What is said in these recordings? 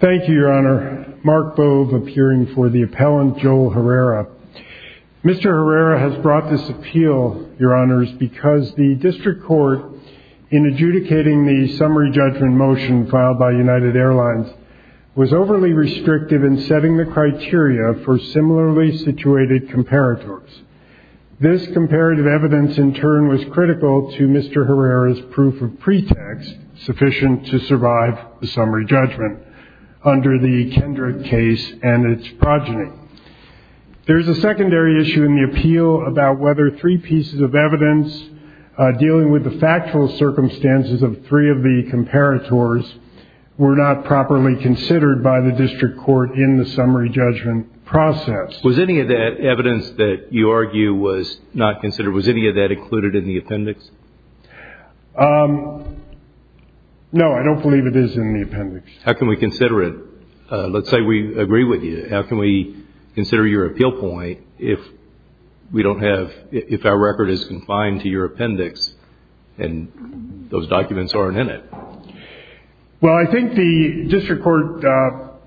Thank you, Your Honor. Mark Bove, appearing for the appellant, Joel Herrera. Mr. Herrera has brought this appeal, Your Honors, because the District Court, in adjudicating the summary judgment motion filed by United Airlines, was overly restrictive in setting the criteria for similarly situated comparators. This comparative evidence, in turn, was critical to Mr. Herrera's proof of pretext sufficient to survive the summary judgment under the Kendrick case and its progeny. There is a secondary issue in the appeal about whether three pieces of evidence dealing with the factual circumstances of three of the comparators were not properly considered by the District Court in the summary judgment process. Was any of that evidence that you argue was not considered, was any of that included in the appendix? No, I don't believe it is in the appendix. How can we consider it? Let's say we agree with you. How can we consider your appeal point if we don't have, if our record is confined to your appendix and those documents aren't in it? Well, I think the District Court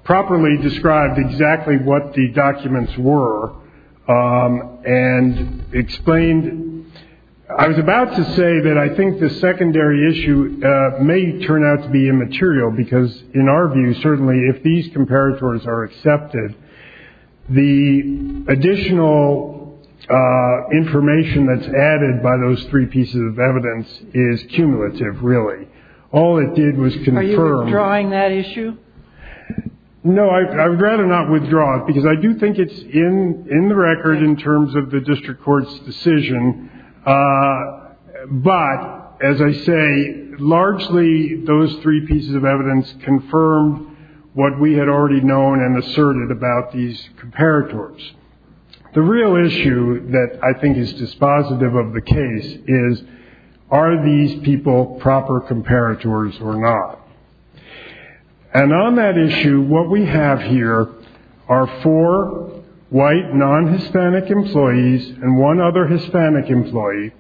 properly described exactly what the documents were and explained. I was about to say that I think the secondary issue may turn out to be immaterial because, in our view, certainly if these comparators are accepted, the additional information that's added by those three pieces of evidence is cumulative, really. All it did was confirm. Are you withdrawing that issue? No, I'd rather not withdraw it because I do think it's in the record in terms of the District Court's decision. But, as I say, largely those three pieces of evidence confirmed what we had already known and asserted about these comparators. The real issue that I think is dispositive of the case is, are these people proper comparators or not? And on that issue, what we have here are four white non-Hispanic employees and one other Hispanic employee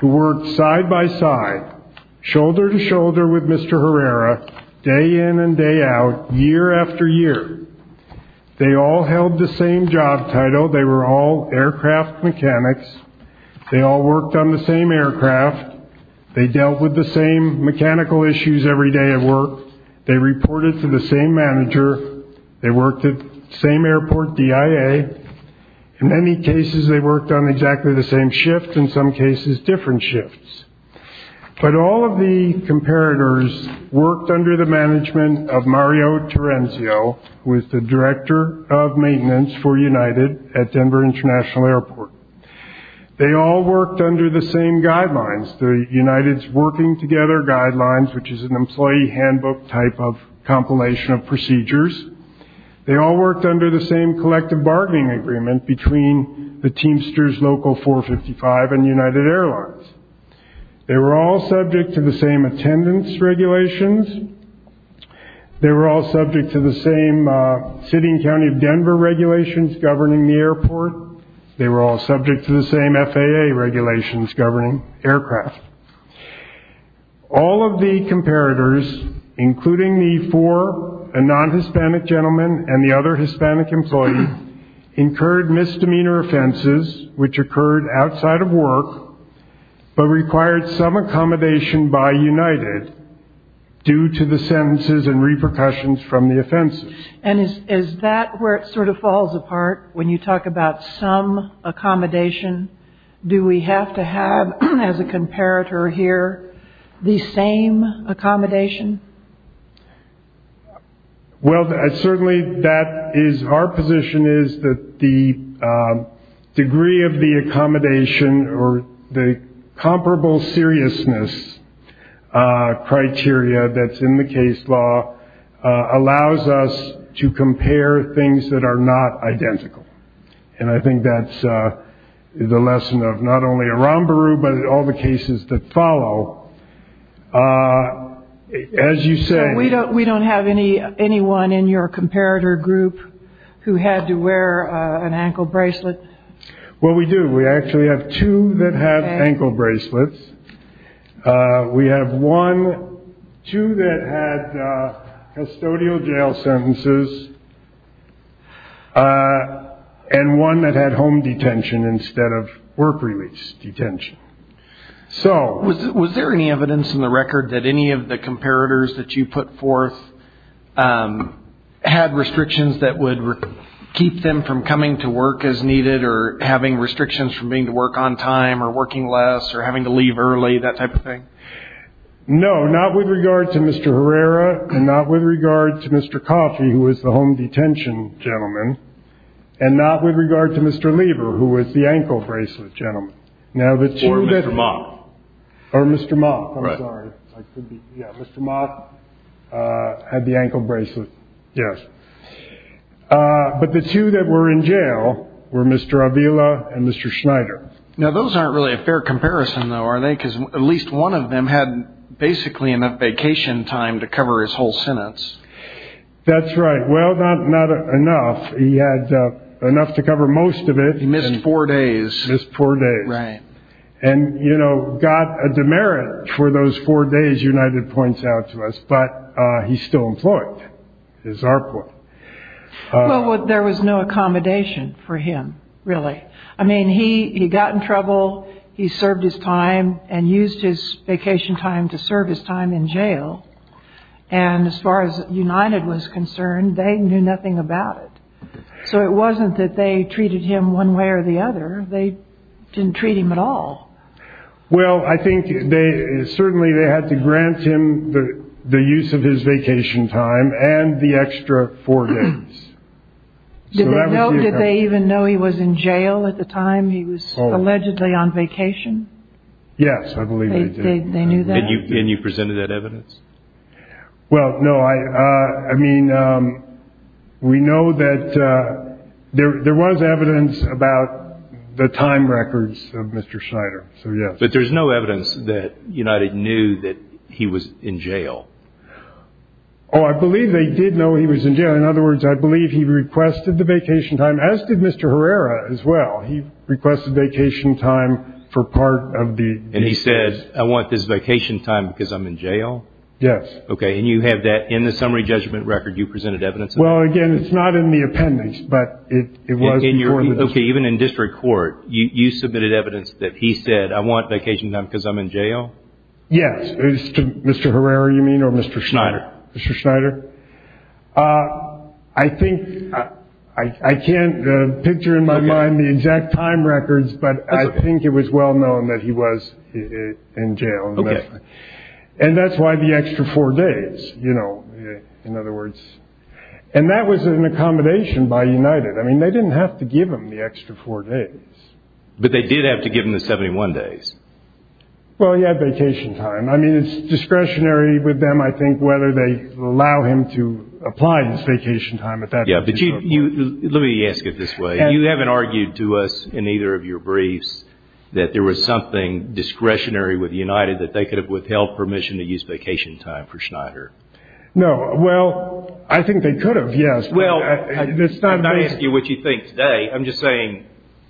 who worked side-by-side, shoulder-to-shoulder with Mr. Herrera, day in and day out, year after year. They all held the same job title. They were all aircraft mechanics. They all worked on the same aircraft. They dealt with the same mechanical issues every day at work. They reported to the same manager. They worked at the same airport, DIA. In many cases, they worked on exactly the same shift. In some cases, different shifts. But all of the comparators worked under the management of Mario Terenzio, who is the Director of Maintenance for United at Denver International Airport. They all worked under the same guidelines, the United's Working Together Guidelines, which is an employee handbook type of compilation of procedures. They all worked under the same collective bargaining agreement between the Teamsters Local 455 and United Airlines. They were all subject to the same attendance regulations. They were all subject to the same city and county of Denver regulations governing the airport. They were all subject to the same FAA regulations governing aircraft. All of the comparators, including the four non-Hispanic gentlemen and the other Hispanic employee, incurred misdemeanor offenses which occurred outside of work but required some accommodation by United due to the sentences and repercussions from the offenses. And is that where it sort of falls apart when you talk about some accommodation? Do we have to have, as a comparator here, the same accommodation? Well, certainly that is our position is that the degree of the accommodation or the comparable seriousness criteria that's in the case law allows us to compare things that are not identical. And I think that's the lesson of not only Aramburu but all the cases that follow. As you say- So we don't have anyone in your comparator group who had to wear an ankle bracelet? Well, we do. We actually have two that have ankle bracelets. We have two that had custodial jail sentences and one that had home detention instead of work-release detention. Was there any evidence in the record that any of the comparators that you put forth had restrictions that would keep them from coming to work as needed or having restrictions from being able to work on time or working less or having to leave early, that type of thing? No, not with regard to Mr. Herrera and not with regard to Mr. Coffey, who was the home detention gentleman, and not with regard to Mr. Lieber, who was the ankle bracelet gentleman. Or Mr. Mock. Or Mr. Mock, I'm sorry. Yeah, Mr. Mock had the ankle bracelet, yes. But the two that were in jail were Mr. Avila and Mr. Schneider. Now, those aren't really a fair comparison, though, are they? Because at least one of them had basically enough vacation time to cover his whole sentence. That's right. Well, not enough. He had enough to cover most of it. He missed four days. Missed four days. Right. And, you know, got a demerit for those four days, United points out to us, but he's still employed, is our point. Well, there was no accommodation for him, really. I mean, he got in trouble. He served his time and used his vacation time to serve his time in jail. And as far as United was concerned, they knew nothing about it. So it wasn't that they treated him one way or the other. They didn't treat him at all. Well, I think certainly they had to grant him the use of his vacation time and the extra four days. Did they even know he was in jail at the time he was allegedly on vacation? Yes, I believe they did. They knew that? And you presented that evidence? Well, no, I mean, we know that there was evidence about the time records of Mr. Schneider. But there's no evidence that United knew that he was in jail. Oh, I believe they did know he was in jail. In other words, I believe he requested the vacation time, as did Mr. Herrera as well. He requested vacation time for part of the vacation time. He said, I want this vacation time because I'm in jail? Yes. Okay. And you have that in the summary judgment record you presented evidence of? Well, again, it's not in the appendix, but it was before. Okay. Even in district court, you submitted evidence that he said, I want vacation time because I'm in jail? Yes. Mr. Herrera, you mean, or Mr. Schneider? Mr. Schneider. I think I can't picture in my mind the exact time records, but I think it was well known that he was in jail. Okay. And that's why the extra four days, you know, in other words. And that was an accommodation by United. I mean, they didn't have to give him the extra four days. But they did have to give him the 71 days. Well, he had vacation time. I mean, it's discretionary with them, I think, whether they allow him to apply his vacation time. Yeah. Let me ask it this way. You haven't argued to us in either of your briefs that there was something discretionary with United that they could have withheld permission to use vacation time for Schneider? No. Well, I think they could have, yes. Well, I'm not asking you what you think today. I'm just saying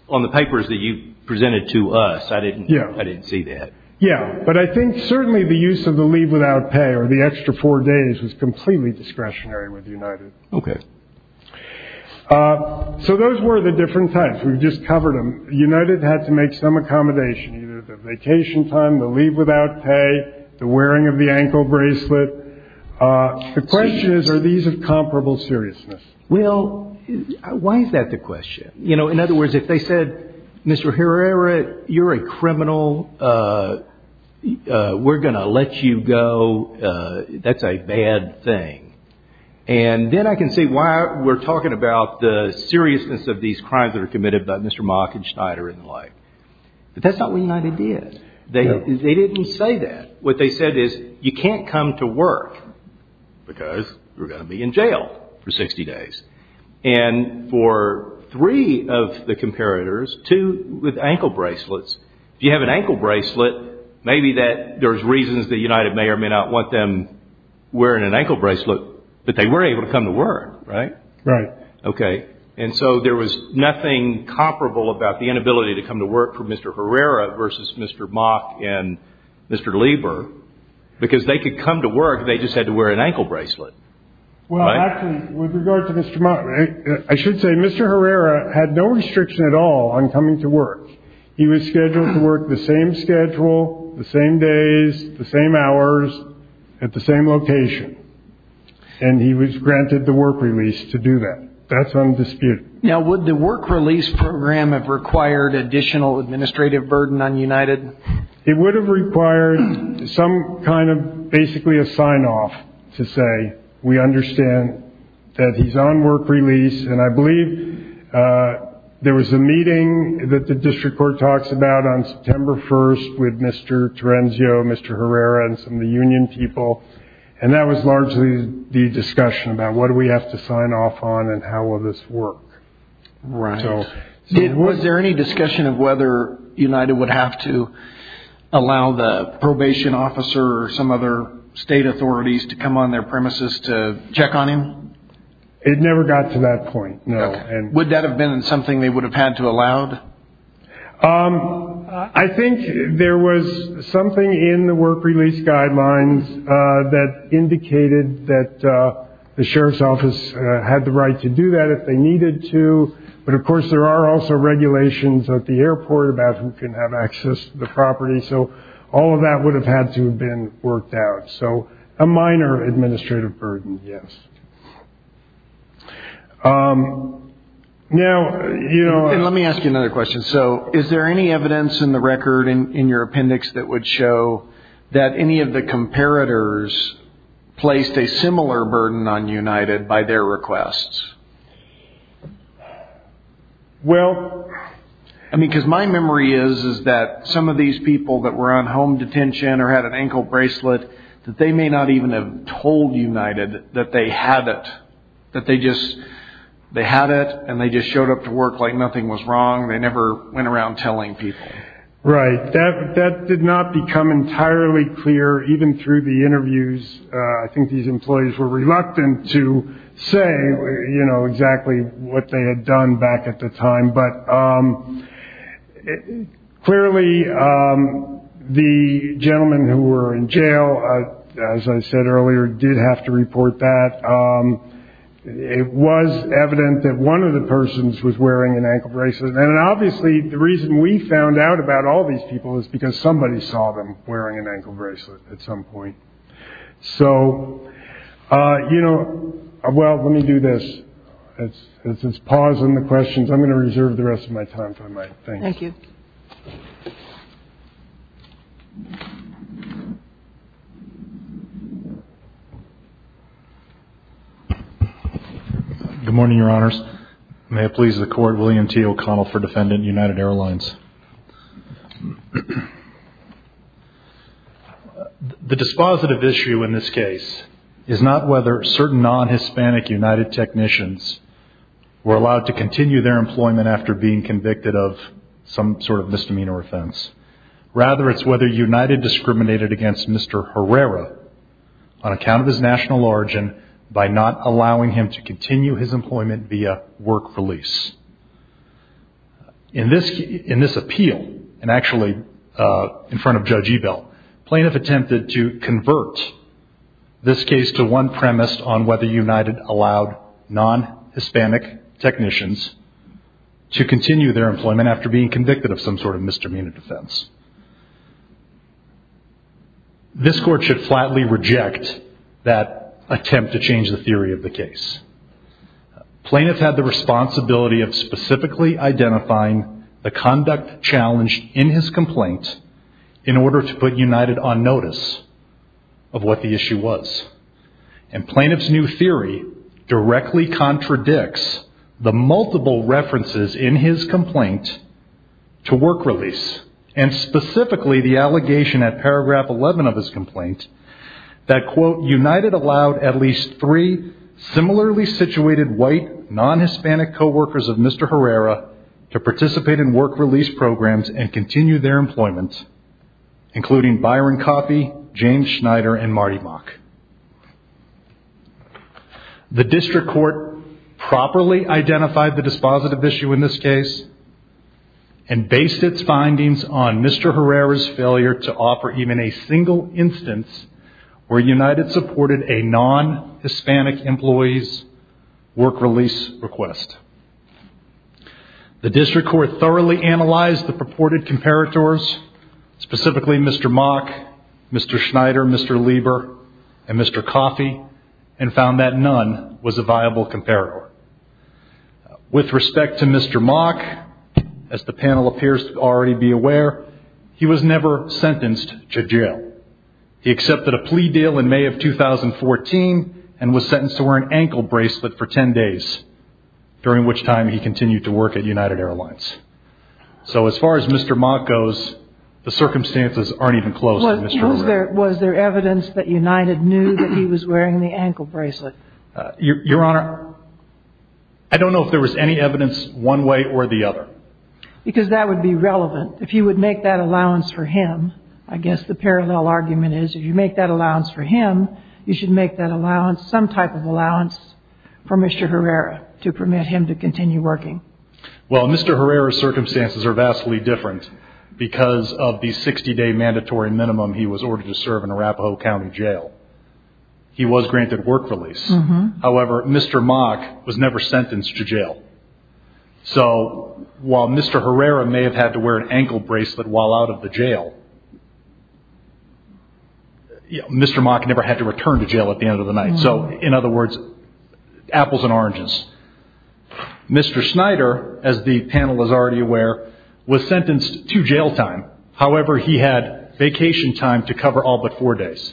on the papers that you presented to us, I didn't see that. Yeah. But I think certainly the use of the leave without pay or the extra four days was completely discretionary with United. Okay. So those were the different types. We've just covered them. United had to make some accommodation, either the vacation time, the leave without pay, the wearing of the ankle bracelet. The question is, are these of comparable seriousness? Well, why is that the question? You know, in other words, if they said, Mr. Herrera, you're a criminal, we're going to let you go, that's a bad thing. And then I can see why we're talking about the seriousness of these crimes that are committed by Mr. Mock and Schneider and the like. But that's not what United did. They didn't say that. What they said is, you can't come to work because you're going to be in jail for 60 days. And for three of the comparators, two with ankle bracelets, if you have an ankle bracelet, maybe there's reasons that United may or may not want them wearing an ankle bracelet, but they were able to come to work, right? Right. Okay. And so there was nothing comparable about the inability to come to work for Mr. Herrera versus Mr. Mock and Mr. Lieber, because they could come to work, they just had to wear an ankle bracelet. Well, actually, with regard to Mr. Mock, I should say Mr. Herrera had no restriction at all on coming to work. He was scheduled to work the same schedule, the same days, the same hours, at the same location, and he was granted the work release to do that. That's undisputed. Now, would the work release program have required additional administrative burden on United? It would have required some kind of basically a sign-off to say we understand that he's on work release, and I believe there was a meeting that the district court talks about on September 1st with Mr. Terenzio, Mr. Herrera, and some of the union people, and that was largely the discussion about what do we have to sign off on and how will this work. Right. Was there any discussion of whether United would have to allow the probation officer or some other state authorities to come on their premises to check on him? It never got to that point, no. Would that have been something they would have had to allow? I think there was something in the work release guidelines that indicated that the sheriff's office had the right to do that if they needed to, but, of course, there are also regulations at the airport about who can have access to the property, so all of that would have had to have been worked out. So a minor administrative burden, yes. And let me ask you another question. So is there any evidence in the record, in your appendix, that would show that any of the comparators placed a similar burden on United by their requests? Well, I mean, because my memory is that some of these people that were on home detention or had an ankle bracelet, that they may not even have told United that they had it, that they just had it and they just showed up to work like nothing was wrong. They never went around telling people. Right. That did not become entirely clear even through the interviews. I think these employees were reluctant to say, you know, exactly what they had done back at the time. But clearly the gentleman who were in jail, as I said earlier, did have to report that. It was evident that one of the persons was wearing an ankle bracelet. And obviously the reason we found out about all these people is because somebody saw them wearing an ankle bracelet at some point. So, you know, well, let me do this. It's pausing the questions. I'm going to reserve the rest of my time if I might. Thank you. Good morning, Your Honors. May it please the Court, William T. O'Connell for Defendant, United Airlines. The dispositive issue in this case is not whether certain non-Hispanic United technicians were allowed to continue their employment after being convicted of some sort of misdemeanor offense. Rather, it's whether United discriminated against Mr. Herrera on account of his national origin by not allowing him to continue his employment via work release. In this appeal, and actually in front of Judge Ebell, plaintiff attempted to convert this case to one premise on whether United allowed non-Hispanic technicians to continue their employment after being convicted of some sort of misdemeanor offense. This Court should flatly reject that attempt to change the theory of the case. Plaintiff had the responsibility of specifically identifying the conduct challenged in his complaint in order to put United on notice of what the issue was. And plaintiff's new theory directly contradicts the multiple references in his complaint to work release and specifically the allegation at paragraph 11 of his complaint that, quote, United allowed at least three similarly situated white, non-Hispanic co-workers of Mr. Herrera to participate in work release programs and continue their employment, including Byron Coffey, James Schneider, and Marty Mock. The District Court properly identified the dispositive issue in this case and based its findings on Mr. Herrera's failure to offer even a single instance where United supported a non-Hispanic employee's work release request. The District Court thoroughly analyzed the purported comparators, specifically Mr. Mock, Mr. Schneider, Mr. Lieber, and Mr. Coffey, and found that none was a viable comparator. With respect to Mr. Mock, as the panel appears to already be aware, he was never sentenced to jail. He accepted a plea deal in May of 2014 and was sentenced to wear an ankle bracelet for 10 days, during which time he continued to work at United Airlines. So as far as Mr. Mock goes, the circumstances aren't even close to Mr. Herrera. Was there evidence that United knew that he was wearing the ankle bracelet? Your Honor, I don't know if there was any evidence one way or the other. Because that would be relevant. If you would make that allowance for him, I guess the parallel argument is if you make that allowance for him, you should make that allowance, some type of allowance for Mr. Herrera to permit him to continue working. Well, Mr. Herrera's circumstances are vastly different because of the 60-day mandatory minimum he was ordered to serve in Arapahoe County Jail. He was granted work release. However, Mr. Mock was never sentenced to jail. So while Mr. Herrera may have had to wear an ankle bracelet while out of the jail, Mr. Mock never had to return to jail at the end of the night. So in other words, apples and oranges. Mr. Snyder, as the panel is already aware, was sentenced to jail time. However, he had vacation time to cover all but four days.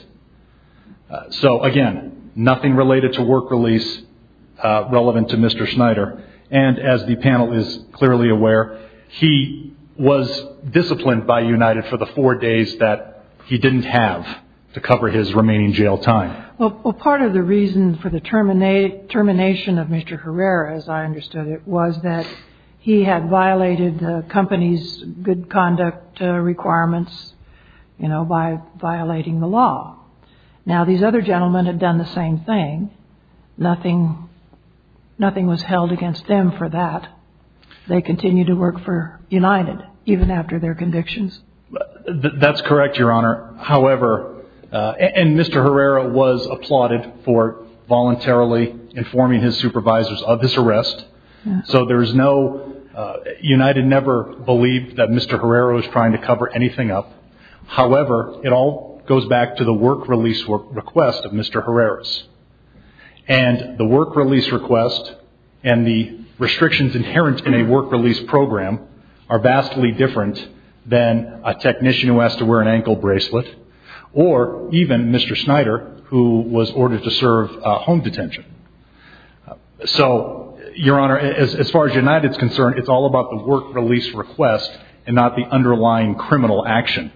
So again, nothing related to work release relevant to Mr. Snyder. And as the panel is clearly aware, he was disciplined by United for the four days that he didn't have to cover his remaining jail time. Well, part of the reason for the termination of Mr. Herrera, as I understood it, was that he had violated the company's good conduct requirements by violating the law. Now, these other gentlemen had done the same thing. Nothing was held against them for that. They continued to work for United even after their convictions. That's correct, Your Honor. And Mr. Herrera was applauded for voluntarily informing his supervisors of his arrest. So United never believed that Mr. Herrera was trying to cover anything up. However, it all goes back to the work release request of Mr. Herrera's. And the work release request and the restrictions inherent in a work release program are vastly different than a technician who has to wear an ankle bracelet or even Mr. Snyder who was ordered to serve home detention. So, Your Honor, as far as United is concerned, it's all about the work release request and not the underlying criminal action.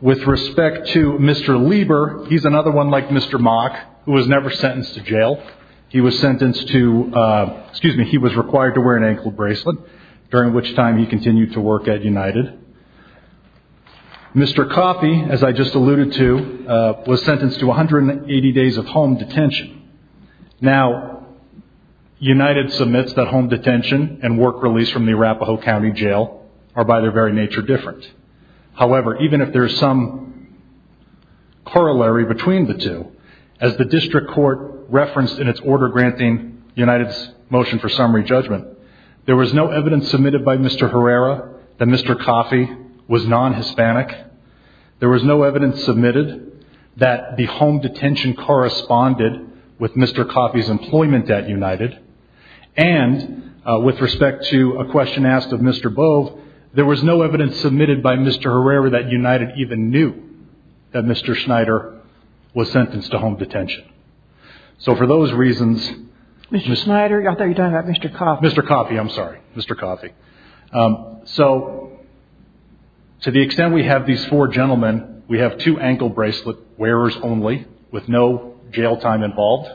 With respect to Mr. Lieber, he's another one like Mr. Mock who was never sentenced to jail. He was sentenced to, excuse me, he was required to wear an ankle bracelet during which time he continued to work at United. Mr. Coffey, as I just alluded to, was sentenced to 180 days of home detention. Now, United submits that home detention and work release from the Arapahoe County Jail are by their very nature different. However, even if there's some corollary between the two, as the district court referenced in its order granting United's motion for summary judgment, there was no evidence submitted by Mr. Herrera that Mr. Coffey was non-Hispanic. There was no evidence submitted that the home detention corresponded with Mr. Coffey's employment at United. And with respect to a question asked of Mr. Bove, there was no evidence submitted by Mr. Herrera that United even knew that Mr. Schneider was sentenced to home detention. So for those reasons, Mr. Schneider? I thought you were talking about Mr. Coffey. Mr. Coffey, I'm sorry. Mr. Coffey. So to the extent we have these four gentlemen, we have two ankle bracelet wearers only with no jail time involved.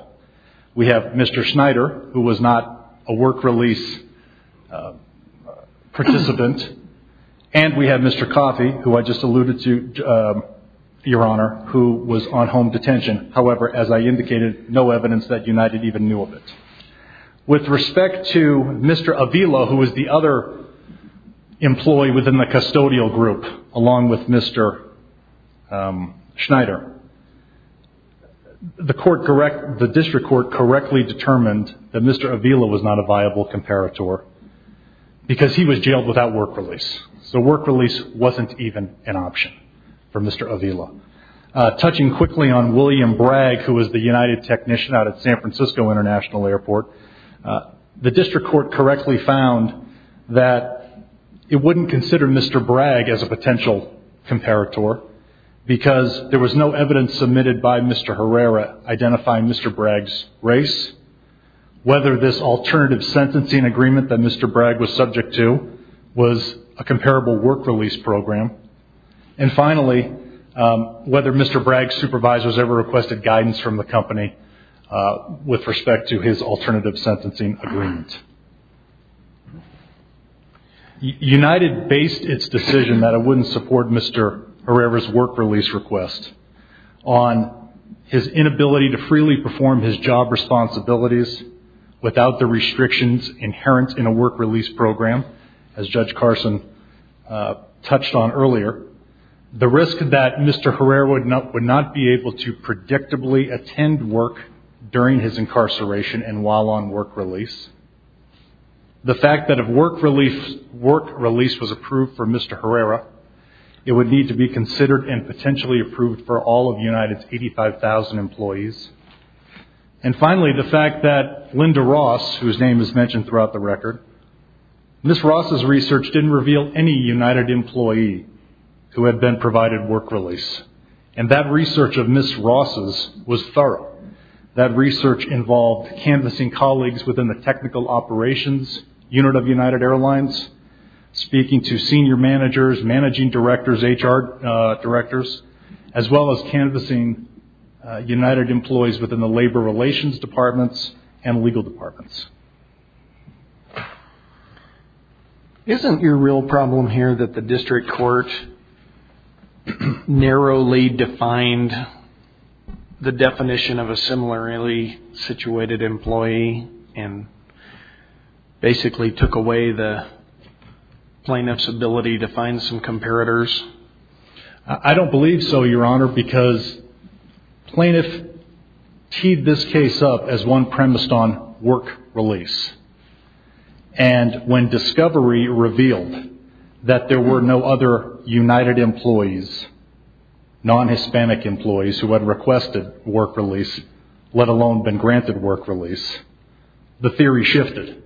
We have Mr. Schneider, who was not a work release participant. And we have Mr. Coffey, who I just alluded to, Your Honor, who was on home detention. However, as I indicated, no evidence that United even knew of it. With respect to Mr. Avila, who was the other employee within the custodial group, along with Mr. Schneider, the district court correctly determined that Mr. Avila was not a viable comparator because he was jailed without work release. So work release wasn't even an option for Mr. Avila. Touching quickly on William Bragg, who was the United technician out at San Francisco International Airport, the district court correctly found that it wouldn't consider Mr. Bragg as a potential comparator because there was no evidence submitted by Mr. Herrera identifying Mr. Bragg's race, whether this alternative sentencing agreement that Mr. Bragg was subject to was a comparable work release program, and finally, whether Mr. Bragg's supervisors ever requested guidance from the company with respect to his alternative sentencing agreement. United based its decision that it wouldn't support Mr. Herrera's work release request on his inability to freely perform his job responsibilities without the restrictions inherent in a work release program, as Judge Carson touched on earlier, the risk that Mr. Herrera would not be able to predictably attend work during his incarceration and while on work release. The fact that if work release was approved for Mr. Herrera, it would need to be considered and potentially approved for all of United's 85,000 employees. And finally, the fact that Linda Ross, whose name is mentioned throughout the record, Ms. Ross's research didn't reveal any United employee who had been provided work release, and that research of Ms. Ross's was thorough. That research involved canvassing colleagues within the technical operations unit of United Airlines, speaking to senior managers, managing directors, HR directors, as well as canvassing United employees within the labor relations departments and legal departments. Isn't your real problem here that the district court narrowly defined the definition of a similarly situated employee and basically took away the plaintiff's ability to find some comparators? I don't believe so, Your Honor, because plaintiff teed this case up as one premised on work release. And when discovery revealed that there were no other United employees, non-Hispanic employees, who had requested work release, let alone been granted work release, the theory shifted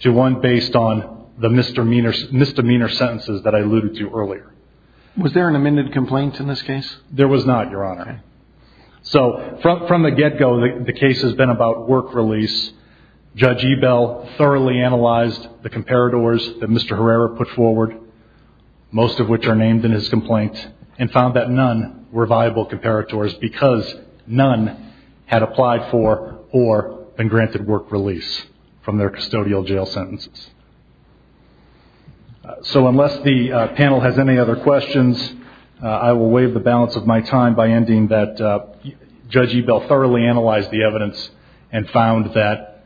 to one based on the misdemeanor sentences that I alluded to earlier. Was there an amended complaint in this case? There was not, Your Honor. So from the get-go, the case has been about work release. Judge Ebell thoroughly analyzed the comparators that Mr. Herrera put forward, most of which are named in his complaint, and found that none were viable comparators because none had applied for or been granted work release from their custodial jail sentences. So unless the panel has any other questions, I will waive the balance of my time by ending that Judge Ebell thoroughly analyzed the evidence and found that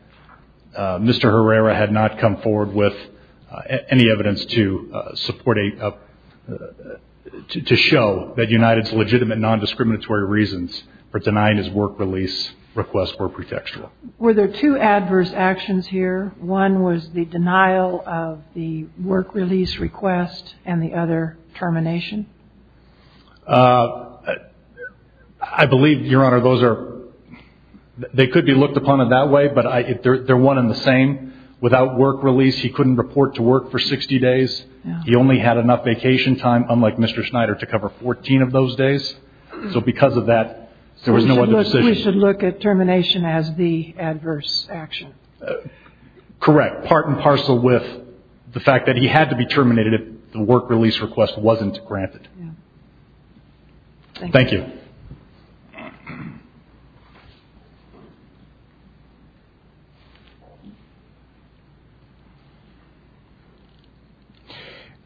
Mr. Herrera had not come forward with any evidence to show that United's legitimate, non-discriminatory reasons for denying his work release request were pretextual. Were there two adverse actions here? One was the denial of the work release request and the other termination? I believe, Your Honor, they could be looked upon in that way, but they're one and the same. Without work release, he couldn't report to work for 60 days. He only had enough vacation time, unlike Mr. Schneider, to cover 14 of those days. So because of that, there was no other decision. So we should look at termination as the adverse action? Correct. Part and parcel with the fact that he had to be terminated if the work release request wasn't granted. Thank you.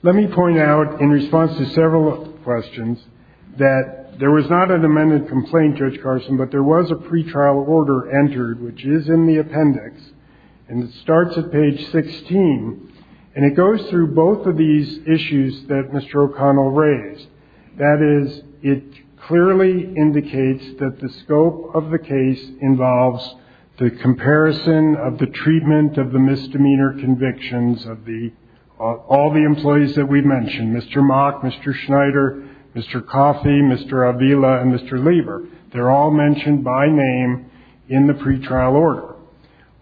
Let me point out, in response to several questions, that there was not an amended complaint, Judge Carson, but there was a pretrial order entered, which is in the appendix, and it starts at page 16, and it goes through both of these issues that Mr. O'Connell raised. That is, it clearly indicates that the scope of the case involves the comparison of the treatment of the misdemeanor convictions of all the employees that we mentioned, Mr. Mock, Mr. Schneider, Mr. Coffey, Mr. Avila, and Mr. Lieber. They're all mentioned by name in the pretrial order.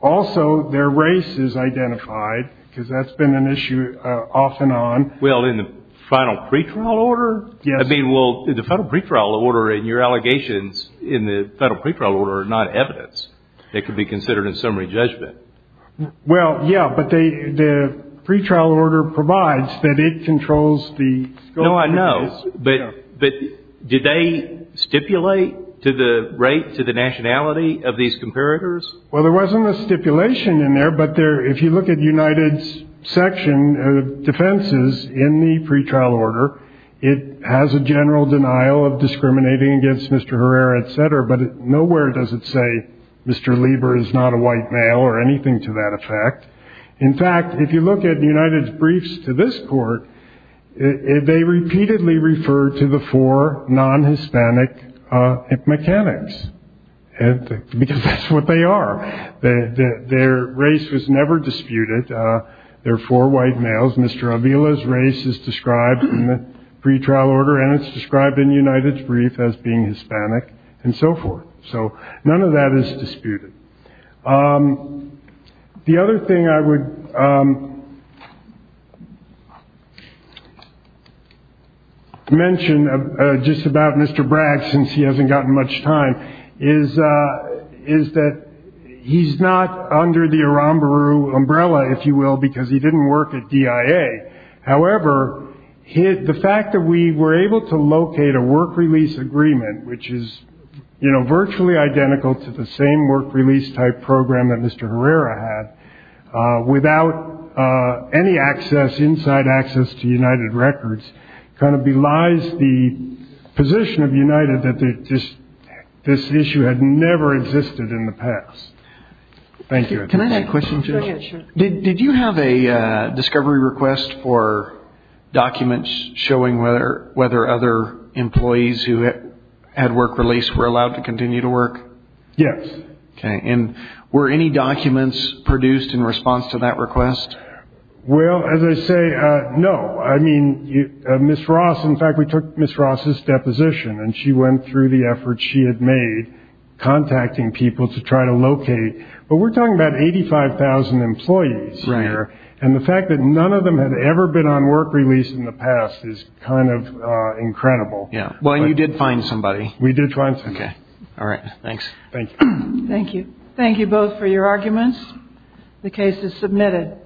Also, their race is identified, because that's been an issue off and on. Well, in the final pretrial order? Yes. I mean, well, the federal pretrial order and your allegations in the federal pretrial order are not evidence. They could be considered in summary judgment. Well, yeah, but the pretrial order provides that it controls the scope of the case. But did they stipulate to the rate, to the nationality of these comparators? Well, there wasn't a stipulation in there, but if you look at United's section of defenses in the pretrial order, it has a general denial of discriminating against Mr. Herrera, et cetera, but nowhere does it say Mr. Lieber is not a white male or anything to that effect. In fact, if you look at United's briefs to this court, they repeatedly refer to the four non-Hispanic mechanics, because that's what they are. Their race was never disputed. They're four white males. Mr. Avila's race is described in the pretrial order, and it's described in United's brief as being Hispanic and so forth. So none of that is disputed. The other thing I would mention just about Mr. Bragg, since he hasn't gotten much time, is that he's not under the Aramburu umbrella, if you will, because he didn't work at DIA. However, the fact that we were able to locate a work release agreement, which is virtually identical to the same work release type program that Mr. Herrera had, without any access, inside access, to United Records, kind of belies the position of United that this issue had never existed in the past. Thank you. Can I ask a question? Go ahead, sure. Did you have a discovery request for documents showing whether other employees who had work release were allowed to continue to work? Yes. Okay. And were any documents produced in response to that request? Well, as I say, no. I mean, Ms. Ross, in fact, we took Ms. Ross's deposition, and she went through the effort she had made contacting people to try to locate. But we're talking about 85,000 employees here. Right. And the fact that none of them had ever been on work release in the past is kind of incredible. Yeah. Well, and you did find somebody. We did find somebody. Okay. All right. Thanks. Thank you. Thank you. Thank you both for your arguments. The case is submitted.